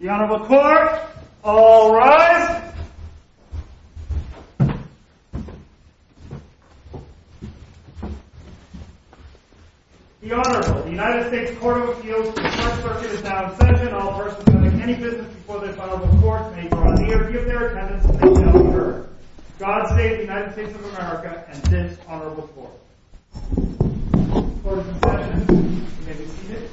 The Honorable Court, all rise. The Honorable, the United States Court of Appeals, the Court Circuit is now in session. All persons having any business before this Honorable Court may draw the arrear of their attendance until they are adjourned. God save the United States of America and this Honorable Court. Court is in session. You may be seated.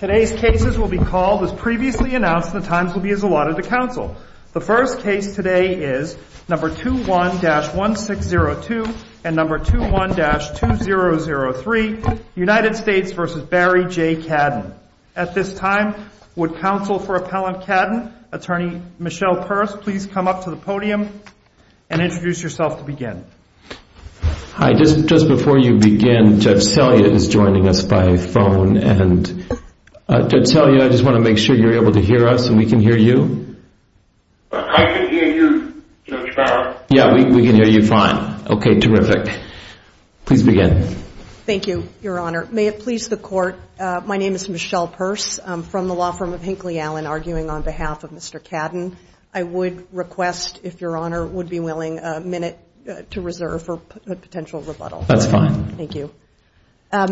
Today's cases will be called as previously announced and the times will be as allotted to counsel. The first case today is No. 21-1602 and No. 21-2003, United States v. Barry J. Cadden. At this time, would counsel for Appellant Cadden, Attorney Michelle Peirce, please come up to the podium and introduce yourself to begin. Hi, just before you begin, Judge Selya is joining us by phone and Judge Selya, I just want to make sure you're able to hear us and we can hear you. I can hear you, Judge Bauer. Yeah, we can hear you fine. Okay, terrific. Please begin. Thank you, Your Honor. May it please the Court, my name is Michelle Peirce. I'm from the law firm of Hinkley Allen, arguing on behalf of Mr. Cadden. I would request, if Your Honor would be willing, a minute to reserve for potential rebuttal. That's fine. Thank you. As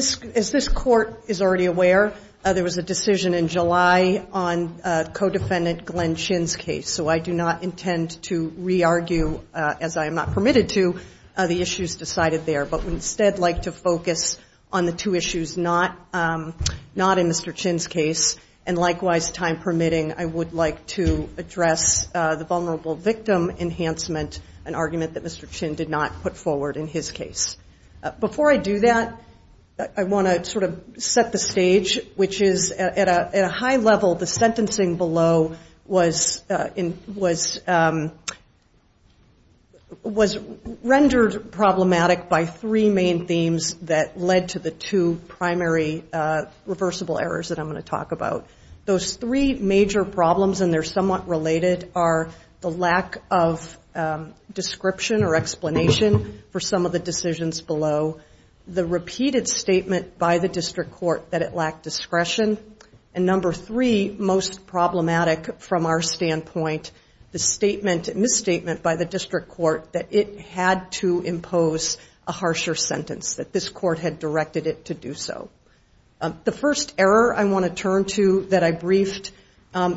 this Court is already aware, there was a decision in July on co-defendant Glenn Chin's case, so I do not intend to re-argue, as I am not permitted to, the issues decided there, but would instead like to focus on the two issues not in Mr. Chin's case. And likewise, time permitting, I would like to address the vulnerable victim enhancement, an argument that Mr. Chin did not put forward in his case. Before I do that, I want to sort of set the stage, which is at a high level, the sentencing below was rendered problematic by three main themes that led to the two primary reversible errors that I'm going to talk about. Those three major problems, and they're somewhat related, are the lack of description or explanation for some of the decisions below, the repeated statement by the district court that it lacked discretion, and number three, most problematic from our standpoint, the misstatement by the district court that it had to impose a harsher sentence, that this court had directed it to do so. The first error I want to turn to that I briefed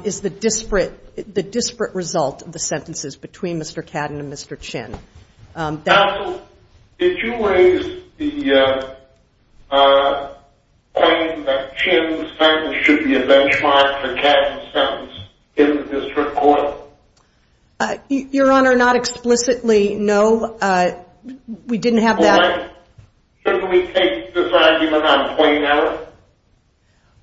is the disparate result of the sentences between Mr. Cadden and Mr. Chin. Counsel, did you raise the point that Chin's sentence should be a benchmark for Cadden's sentence in the district court? Your Honor, not explicitly, no. We didn't have that. Shouldn't we take this argument on point, Your Honor?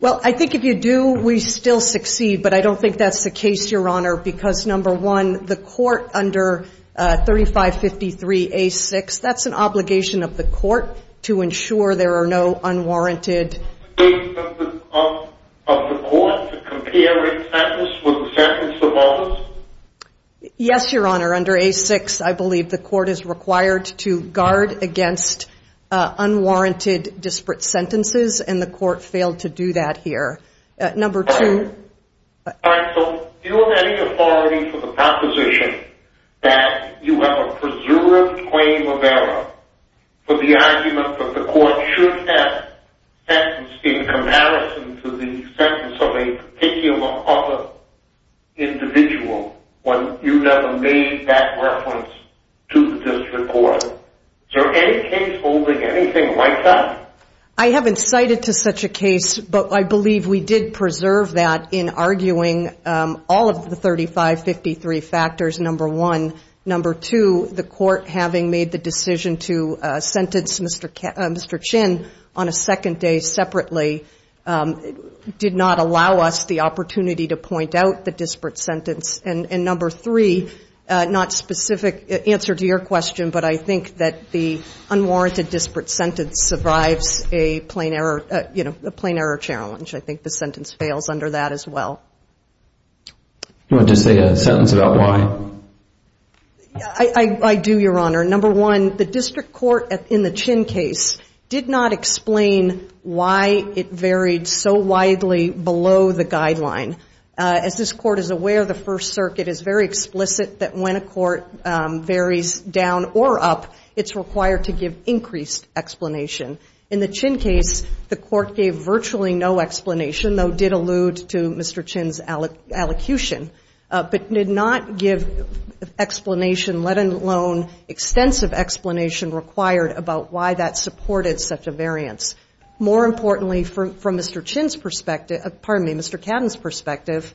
Well, I think if you do, we still succeed, but I don't think that's the case, Your Honor, because number one, the court under 3553A6, that's an obligation of the court to ensure there are no unwarranted- Statement of the court to compare its sentence with the sentence of others? Yes, Your Honor, under A6, I believe the court is required to guard against unwarranted disparate sentences, and the court failed to do that here. Number two- All right, so do you have any authority for the proposition that you have a presumed claim of error for the argument that the court should have sentences in comparison to the sentences of a particular other individual when you never made that reference to the district court? Is there any case holding anything like that? I haven't cited to such a case, but I believe we did preserve that in arguing all of the 3553 factors, number one. Number two, the court having made the decision to sentence Mr. Chin on a second day separately did not allow us the opportunity to point out the disparate sentence. And number three, not specific answer to your question, but I think that the unwarranted disparate sentence survives a plain error challenge. I think the sentence fails under that as well. Do you want to say a sentence about why? I do, Your Honor. Number one, the district court in the Chin case did not explain why it varied so widely below the guideline. As this court is aware, the First Circuit is very explicit that when a court varies down or up, it's required to give increased explanation. In the Chin case, the court gave virtually no explanation, though did allude to Mr. Chin's allocution, but did not give explanation, let alone extensive explanation required about why that supported such a variance. More importantly, from Mr. Chin's perspective, pardon me, Mr. Cadden's perspective,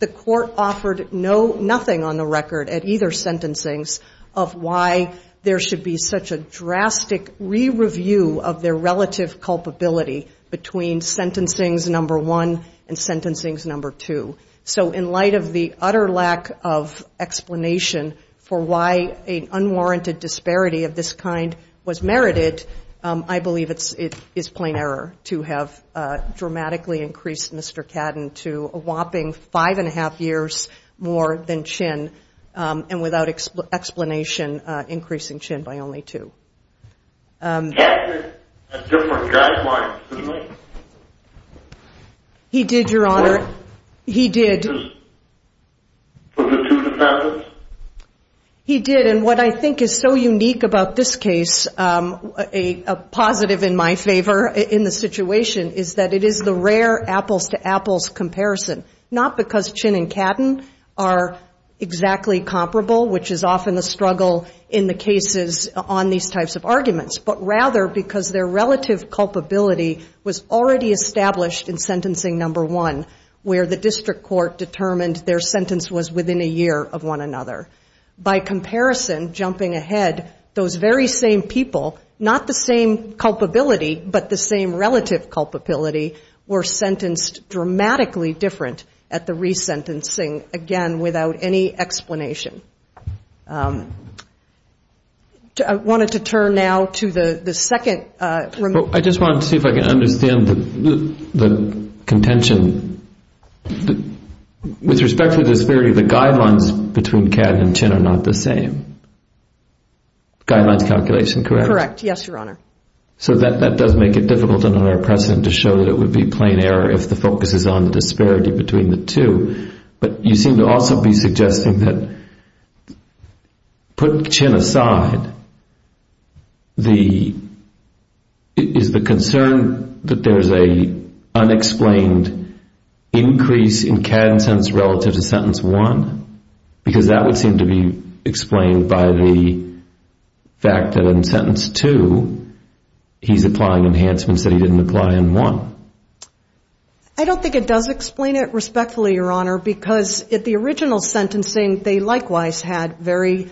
the court offered nothing on the record at either sentencing of why there should be such a drastic re-review of their relative culpability between sentencing number one and sentencing number two. So in light of the utter lack of explanation for why an unwarranted disparity of this kind was merited, I believe it is plain error to have dramatically increased Mr. Cadden to a whopping five-and-a-half years more than Chin, and without explanation, increasing Chin by only two. Cadden had a different guideline, didn't he? He did, Your Honor. What? He did. For the two defendants? He did, and what I think is so unique about this case, a positive in my favor in the situation, is that it is the rare apples-to-apples comparison, not because Chin and Cadden are exactly comparable, which is often the struggle in the cases on these types of arguments, but rather because their relative culpability was already established in sentencing number one, where the district court determined their sentence was within a year of one another. By comparison, jumping ahead, those very same people, not the same culpability, but the same relative culpability were sentenced dramatically different at the resentencing, again, without any explanation. I wanted to turn now to the second. I just wanted to see if I could understand the contention. With respect to the disparity, the guidelines between Cadden and Chin are not the same. Guidelines calculation, correct? Correct, yes, Your Honor. So that does make it difficult under our precedent to show that it would be plain error if the focus is on the disparity between the two, but you seem to also be suggesting that, put Chin aside, is the concern that there's an unexplained increase in Cadden's sentence relative to sentence one? Because that would seem to be explained by the fact that in sentence two, he's applying enhancements that he didn't apply in one. I don't think it does explain it respectfully, Your Honor, because at the original sentencing, they likewise had very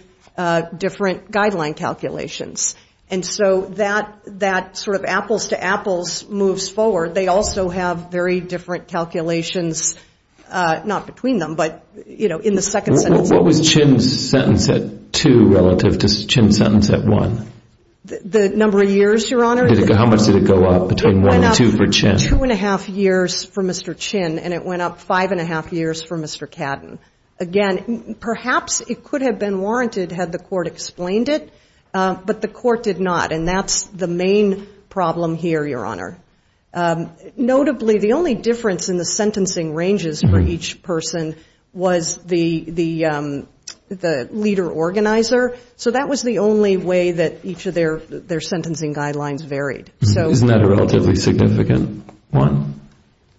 different guideline calculations. And so that sort of apples to apples moves forward. They also have very different calculations, not between them, but, you know, in the second sentence. What was Chin's sentence at two relative to Chin's sentence at one? The number of years, Your Honor? How much did it go up between one and two for Chin? It went up two-and-a-half years for Mr. Chin, and it went up five-and-a-half years for Mr. Cadden. Again, perhaps it could have been warranted had the court explained it, but the court did not, and that's the main problem here, Your Honor. Notably, the only difference in the sentencing ranges for each person was the leader organizer, so that was the only way that each of their sentencing guidelines varied. Isn't that a relatively significant one?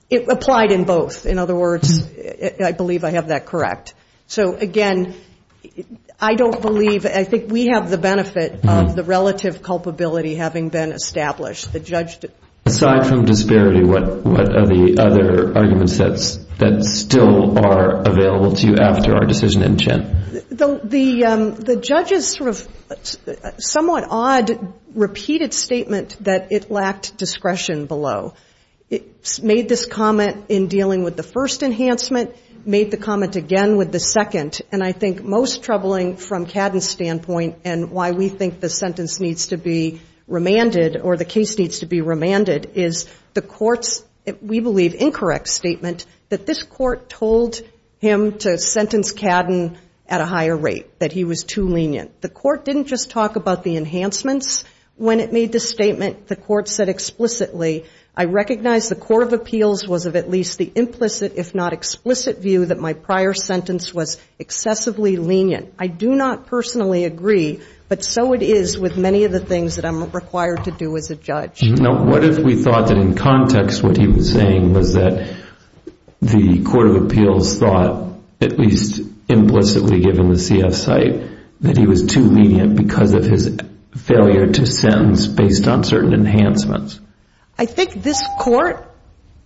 It applied in both. In other words, I believe I have that correct. So, again, I don't believe, I think we have the benefit of the relative culpability having been established. Aside from disparity, what are the other arguments that still are available to you after our decision in Chin? The judge's sort of somewhat odd repeated statement that it lacked discretion below. It made this comment in dealing with the first enhancement, made the comment again with the second, and I think most troubling from Cadden's standpoint and why we think the sentence needs to be remanded or the case needs to be remanded is the court's, we believe, that this court told him to sentence Cadden at a higher rate, that he was too lenient. The court didn't just talk about the enhancements. When it made the statement, the court said explicitly, I recognize the court of appeals was of at least the implicit, if not explicit, view that my prior sentence was excessively lenient. I do not personally agree, but so it is with many of the things that I'm required to do as a judge. What if we thought that in context what he was saying was that the court of appeals thought, at least implicitly given the CF site, that he was too lenient because of his failure to sentence based on certain enhancements? I think this court,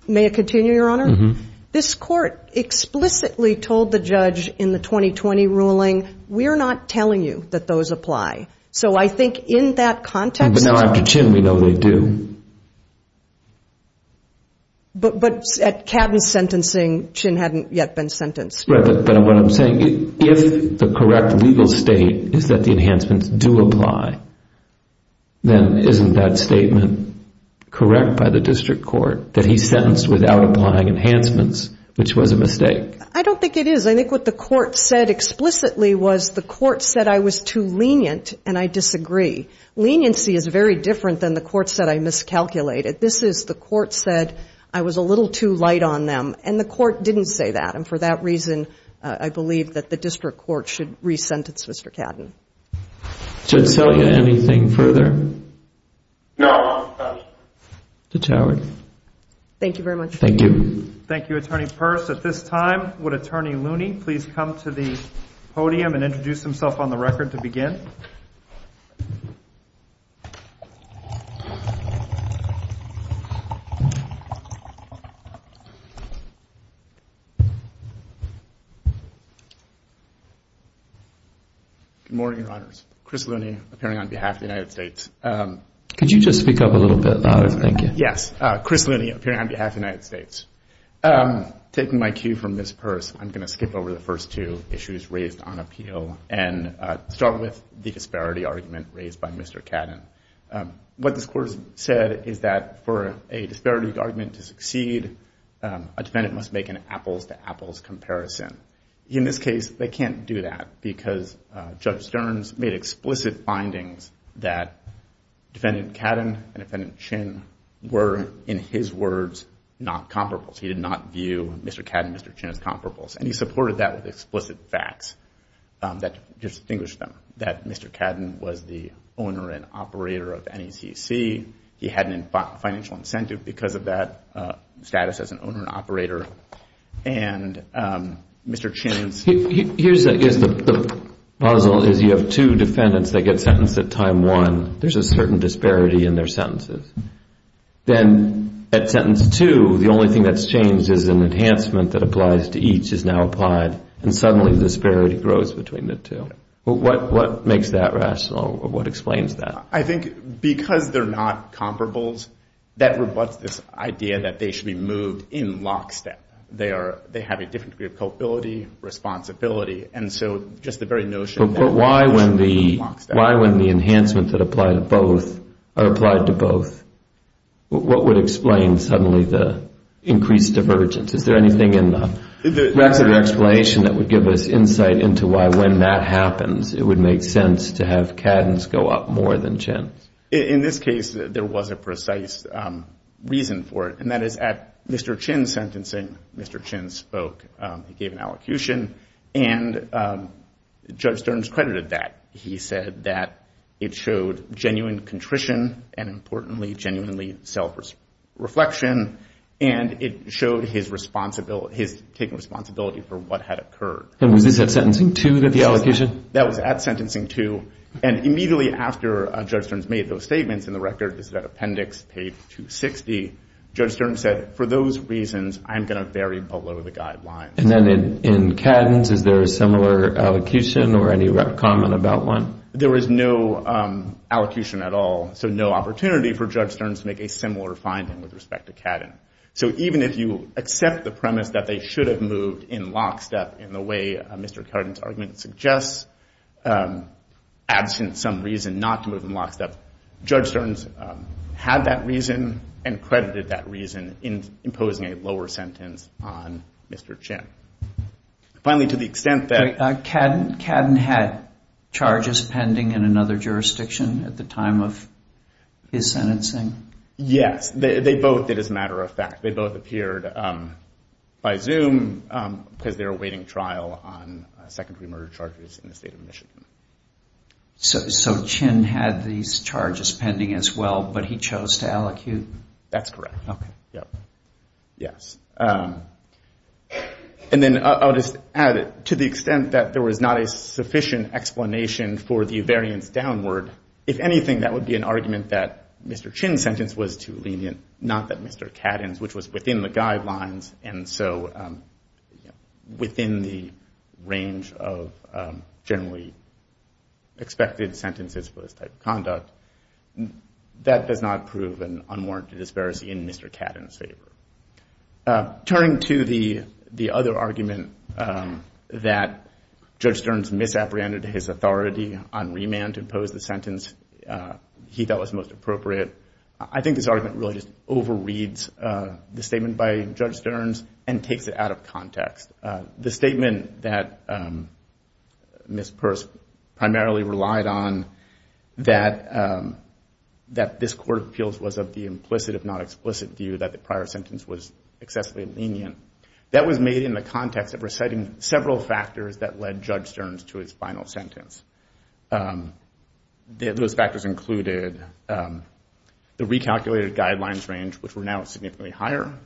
may I continue, Your Honor? This court explicitly told the judge in the 2020 ruling, we're not telling you that those apply. So I think in that context- But now after Chinn, we know they do. But at Cadden's sentencing, Chinn hadn't yet been sentenced. Right, but what I'm saying, if the correct legal state is that the enhancements do apply, then isn't that statement correct by the district court, that he's sentenced without applying enhancements, which was a mistake? I don't think it is. I think what the court said explicitly was the court said I was too lenient, and I disagree. Leniency is very different than the court said I miscalculated. This is the court said I was a little too light on them, and the court didn't say that. And for that reason, I believe that the district court should re-sentence Mr. Cadden. Judge Selya, anything further? No, Your Honor. Judge Howard. Thank you very much. Thank you. Thank you, Attorney Peirce. At this time, would Attorney Looney please come to the podium and introduce himself on the record to begin? Good morning, Your Honors. Chris Looney, appearing on behalf of the United States. Could you just speak up a little bit louder? Yes. Chris Looney, appearing on behalf of the United States. Taking my cue from Ms. Peirce, I'm going to skip over the first two issues raised on appeal and start with the disparity argument raised by Mr. Cadden. What this court said is that for a disparity argument to succeed, a defendant must make an apples-to-apples comparison. In this case, they can't do that because Judge Stearns made explicit findings that Defendant Cadden and Defendant Chin were, in his words, not comparables. He did not view Mr. Cadden and Mr. Chin as comparables, and he supported that with explicit facts that distinguished them, that Mr. Cadden was the owner and operator of NECC. He had a financial incentive because of that status as an owner and operator, and Mr. Chin's Here's the puzzle, is you have two defendants that get sentenced at time one. There's a certain disparity in their sentences. Then at sentence two, the only thing that's changed is an enhancement that applies to each is now applied, and suddenly the disparity grows between the two. What makes that rational? What explains that? I think because they're not comparables, that rebutts this idea that they should be moved in lockstep. They have a different degree of culpability, responsibility, and so just the very notion that they should be moved lockstep. But why when the enhancement that applied to both, what would explain suddenly the increased divergence? Is there anything in the rest of the explanation that would give us insight into why when that happens, it would make sense to have Cadden's go up more than Chin's? In this case, there was a precise reason for it, and that is at Mr. Chin's sentencing, Mr. Chin spoke. He gave an allocution, and Judge Stearns credited that. He said that it showed genuine contrition and, importantly, genuinely self-reflection, and it showed his taking responsibility for what had occurred. And was this at sentencing two, the allocation? That was at sentencing two, and immediately after Judge Stearns made those statements in the record, which is at appendix page 260, Judge Stearns said, for those reasons, I'm going to vary below the guidelines. And then in Cadden's, is there a similar allocation or any comment about one? There was no allocation at all, so no opportunity for Judge Stearns to make a similar finding with respect to Cadden. So even if you accept the premise that they should have moved in lockstep in the way Mr. Cadden's argument suggests, absent some reason not to move in lockstep, Judge Stearns had that reason and credited that reason in imposing a lower sentence on Mr. Chin. Finally, to the extent that- Cadden had charges pending in another jurisdiction at the time of his sentencing? Yes, they both did as a matter of fact. They both appeared by Zoom because they were awaiting trial on secondary murder charges in the state of Michigan. So Chin had these charges pending as well, but he chose to allocute? That's correct. Okay. Yes. And then I'll just add, to the extent that there was not a sufficient explanation for the variance downward, if anything, that would be an argument that Mr. Chin's sentence was too lenient, not that Mr. Cadden's, which was within the guidelines, and so within the range of generally expected sentences for this type of conduct, that does not prove an unwarranted disparity in Mr. Cadden's favor. Turning to the other argument that Judge Stearns misapprehended his authority on remand to impose the sentence he thought was most appropriate, I think this argument really just overreads the statement by Judge Stearns and takes it out of context. The statement that Ms. Purse primarily relied on, that this Court of Appeals was of the implicit, if not explicit, view that the prior sentence was excessively lenient, that was made in the context of reciting several factors that led Judge Stearns to his final sentence. Those factors included the recalculated guidelines range, which were now significantly higher,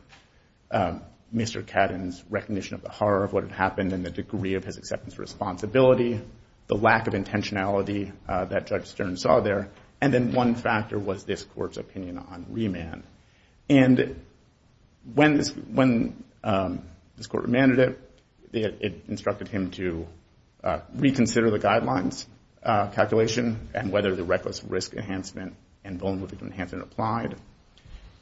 Mr. Cadden's recognition of the horror of what had happened and the degree of his acceptance of responsibility, the lack of intentionality that Judge Stearns saw there, and then one factor was this Court's opinion on remand. And when this Court remanded it, it instructed him to reconsider the guidelines calculation and whether the reckless risk enhancement and vulnerable victim enhancement applied,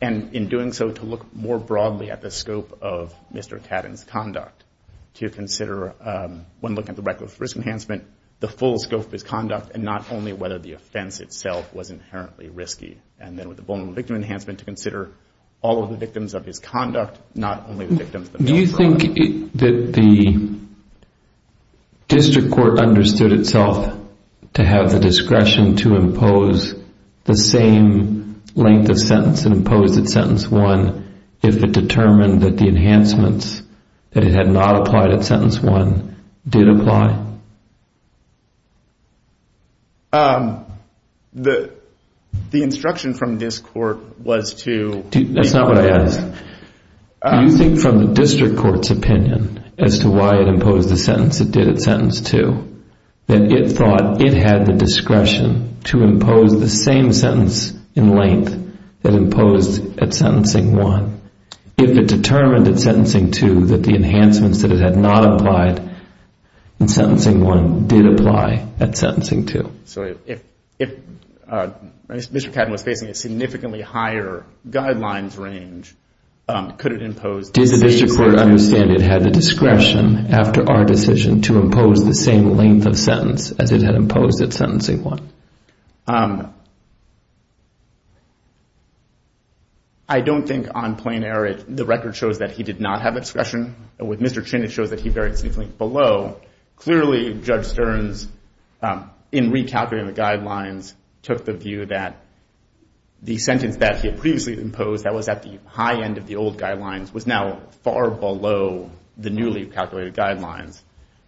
and in doing so to look more broadly at the scope of Mr. Cadden's conduct to consider, when looking at the reckless risk enhancement, the full scope of his conduct and not only whether the offense itself was inherently risky. And then with the vulnerable victim enhancement, to consider all of the victims of his conduct, not only the victims themselves. Do you think that the district court understood itself to have the discretion to impose the same length of sentence imposed at sentence one if it determined that the enhancements that it had not applied at sentence one did apply? The instruction from this Court was to... That's not what I asked. Do you think from the district court's opinion as to why it imposed the sentence it did at sentence two that it thought it had the discretion to impose the same sentence in length that imposed at sentencing one if it determined at sentencing two that the enhancements that it had not applied in sentence one did apply? If Mr. Cadden was facing a significantly higher guidelines range, could it impose... Does the district court understand it had the discretion after our decision to impose the same length of sentence as it had imposed at sentencing one? I don't think on plain error the record shows that he did not have discretion. With Mr. Chin it shows that he very significantly below. Clearly Judge Stearns in recalculating the guidelines took the view that the sentence that he had previously imposed that was at the high end of the old guidelines was now far below the newly calculated guidelines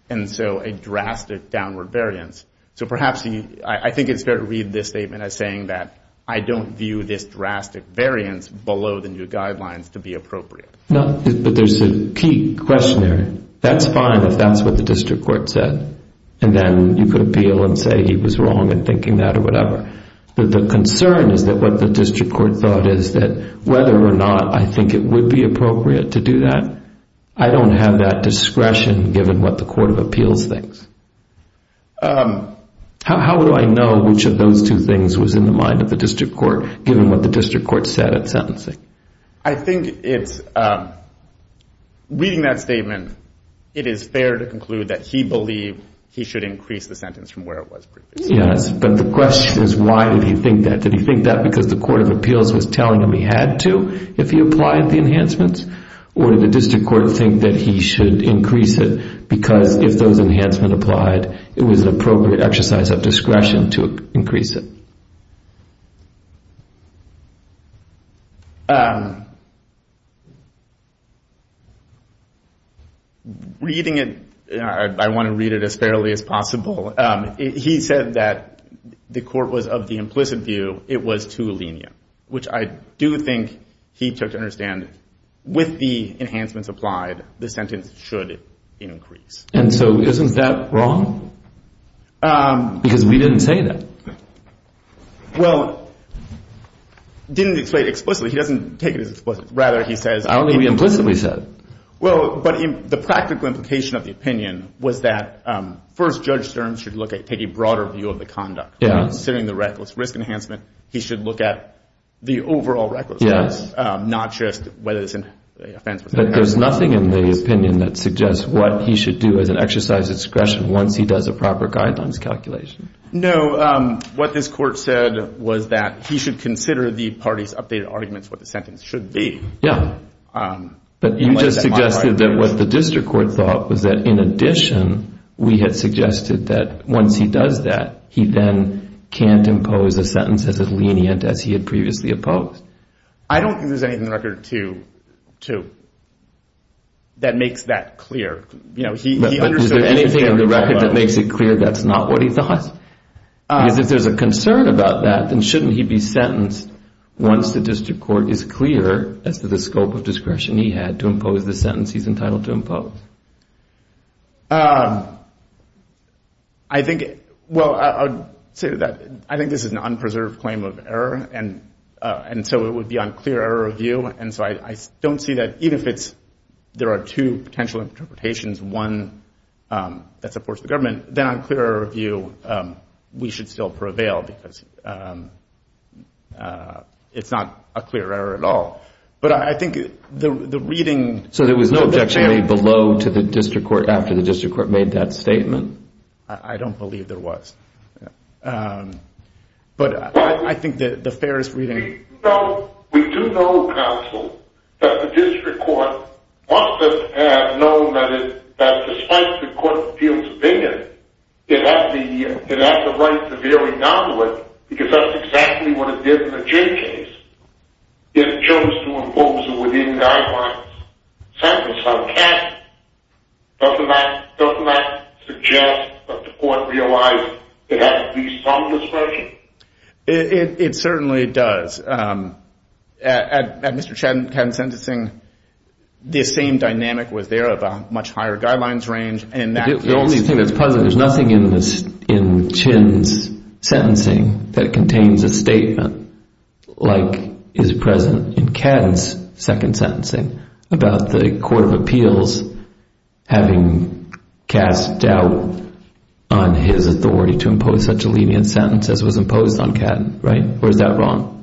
and so a drastic downward variance. So perhaps I think it's fair to read this statement as saying that I don't view this drastic variance below the new guidelines to be appropriate. No, but there's a key question there. That's fine if that's what the district court said. And then you could appeal and say he was wrong in thinking that or whatever. But the concern is that what the district court thought is that whether or not I think it would be appropriate to do that, I don't have that discretion given what the court of appeals thinks. How would I know which of those two things was in the mind of the district court given what the district court said at sentencing? I think it's reading that statement it is fair to conclude that he believed he should increase the sentence from where it was previously. Yes, but the question is why did he think that? Did he think that because the court of appeals was telling him he had to if he applied the enhancements? Or did the district court think that he should increase it because if those enhancements applied it was an appropriate exercise of discretion to increase it? Reading it, I want to read it as fairly as possible. He said that the court was of the implicit view it was too lenient, which I do think he took to understand with the enhancements applied the sentence should increase. And so isn't that wrong? Because we didn't say that. Well, he didn't explain it explicitly. He doesn't take it as explicit. I don't think we implicitly said it. Well, but the practical implication of the opinion was that first Judge Stearns should take a broader view of the conduct. Considering the reckless risk enhancement, he should look at the overall recklessness, not just whether it's an offense. But there's nothing in the opinion that suggests what he should do as an exercise of discretion once he does a proper guidelines calculation. No. What this court said was that he should consider the party's updated arguments what the sentence should be. Yeah. But you just suggested that what the district court thought was that in addition, we had suggested that once he does that, he then can't impose a sentence as lenient as he had previously opposed. I don't think there's anything in the record that makes that clear. But is there anything in the record that makes it clear that's not what he thought? Because if there's a concern about that, then shouldn't he be sentenced once the district court is clear as to the scope of discretion he had to impose the sentence he's entitled to impose? I think, well, I would say that I think this is an unpreserved claim of error. And so it would be on clear error of view. And so I don't see that even if it's there are two potential interpretations, one that supports the government, then on clear error of view, we should still prevail because it's not a clear error at all. But I think the reading. So there was no objection made below to the district court after the district court made that statement? I don't believe there was. But I think that the fairest reading. So we do know, counsel, that the district court must have known that despite the court appeal's opinion, it has the right to vary down to it because that's exactly what it did in the Jay case. It chose to impose a within-guidelines sentence on Kevin. Doesn't that suggest that the court realized it had to be some discretion? It certainly does. At Mr. Kevin's sentencing, this same dynamic was there of a much higher guidelines range. There's nothing in Chin's sentencing that contains a statement like is present in Katton's second sentencing about the court of appeals having cast doubt on his authority to impose such a lenient sentence as was imposed on Katton, right? Or is that wrong?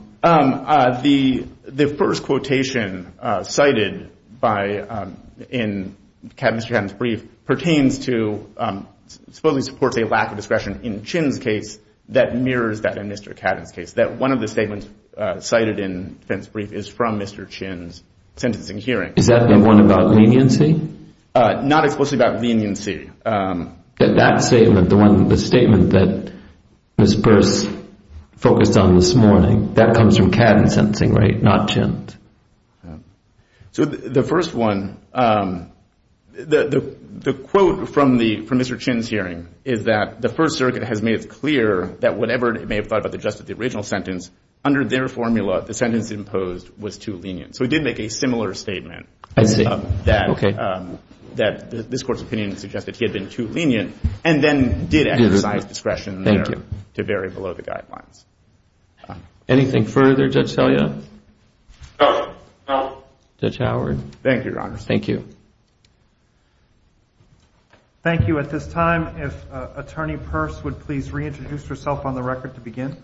The first quotation cited in Mr. Katton's brief pertains to, supposedly supports a lack of discretion in Chin's case that mirrors that in Mr. Katton's case, that one of the statements cited in Katton's brief is from Mr. Chin's sentencing hearing. Is that the one about leniency? Not explicitly about leniency. That statement, the statement that Ms. Burse focused on this morning, that comes from Katton's sentencing, right, not Chin's? The first one, the quote from Mr. Chin's hearing is that the First Circuit has made it clear that whatever it may have thought about the justice of the original sentence, under their formula, the sentence imposed was too lenient. So he did make a similar statement that this court's opinion suggested he had been too lenient and then did emphasize discretion there to vary below the guidelines. Anything further, Judge Selya? No. Judge Howard? Thank you, Your Honor. Thank you. Thank you. At this time, if Attorney Burse would please reintroduce herself on the record to begin.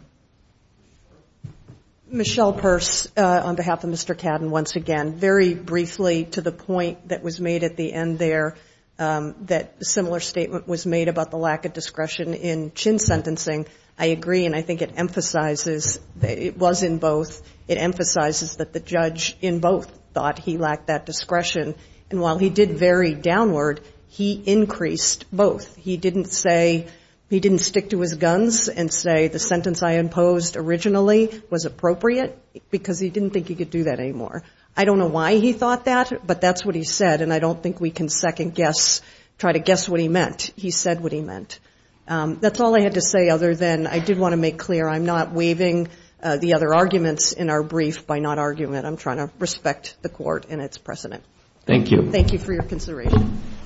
Michelle Burse on behalf of Mr. Katton once again. Very briefly, to the point that was made at the end there, that a similar statement was made about the lack of discretion in Chin's sentencing, I agree and I think it emphasizes, it was in both, it emphasizes that the judge in both thought he lacked that discretion. And while he did vary downward, he increased both. He didn't say, he didn't stick to his guns and say the sentence I imposed originally was appropriate because he didn't think he could do that anymore. I don't know why he thought that, but that's what he said, and I don't think we can second guess, try to guess what he meant. He said what he meant. That's all I had to say other than I did want to make clear I'm not waiving the other arguments in our brief by not arguing it. I'm trying to respect the court and its precedent. Thank you. Thank you for your consideration.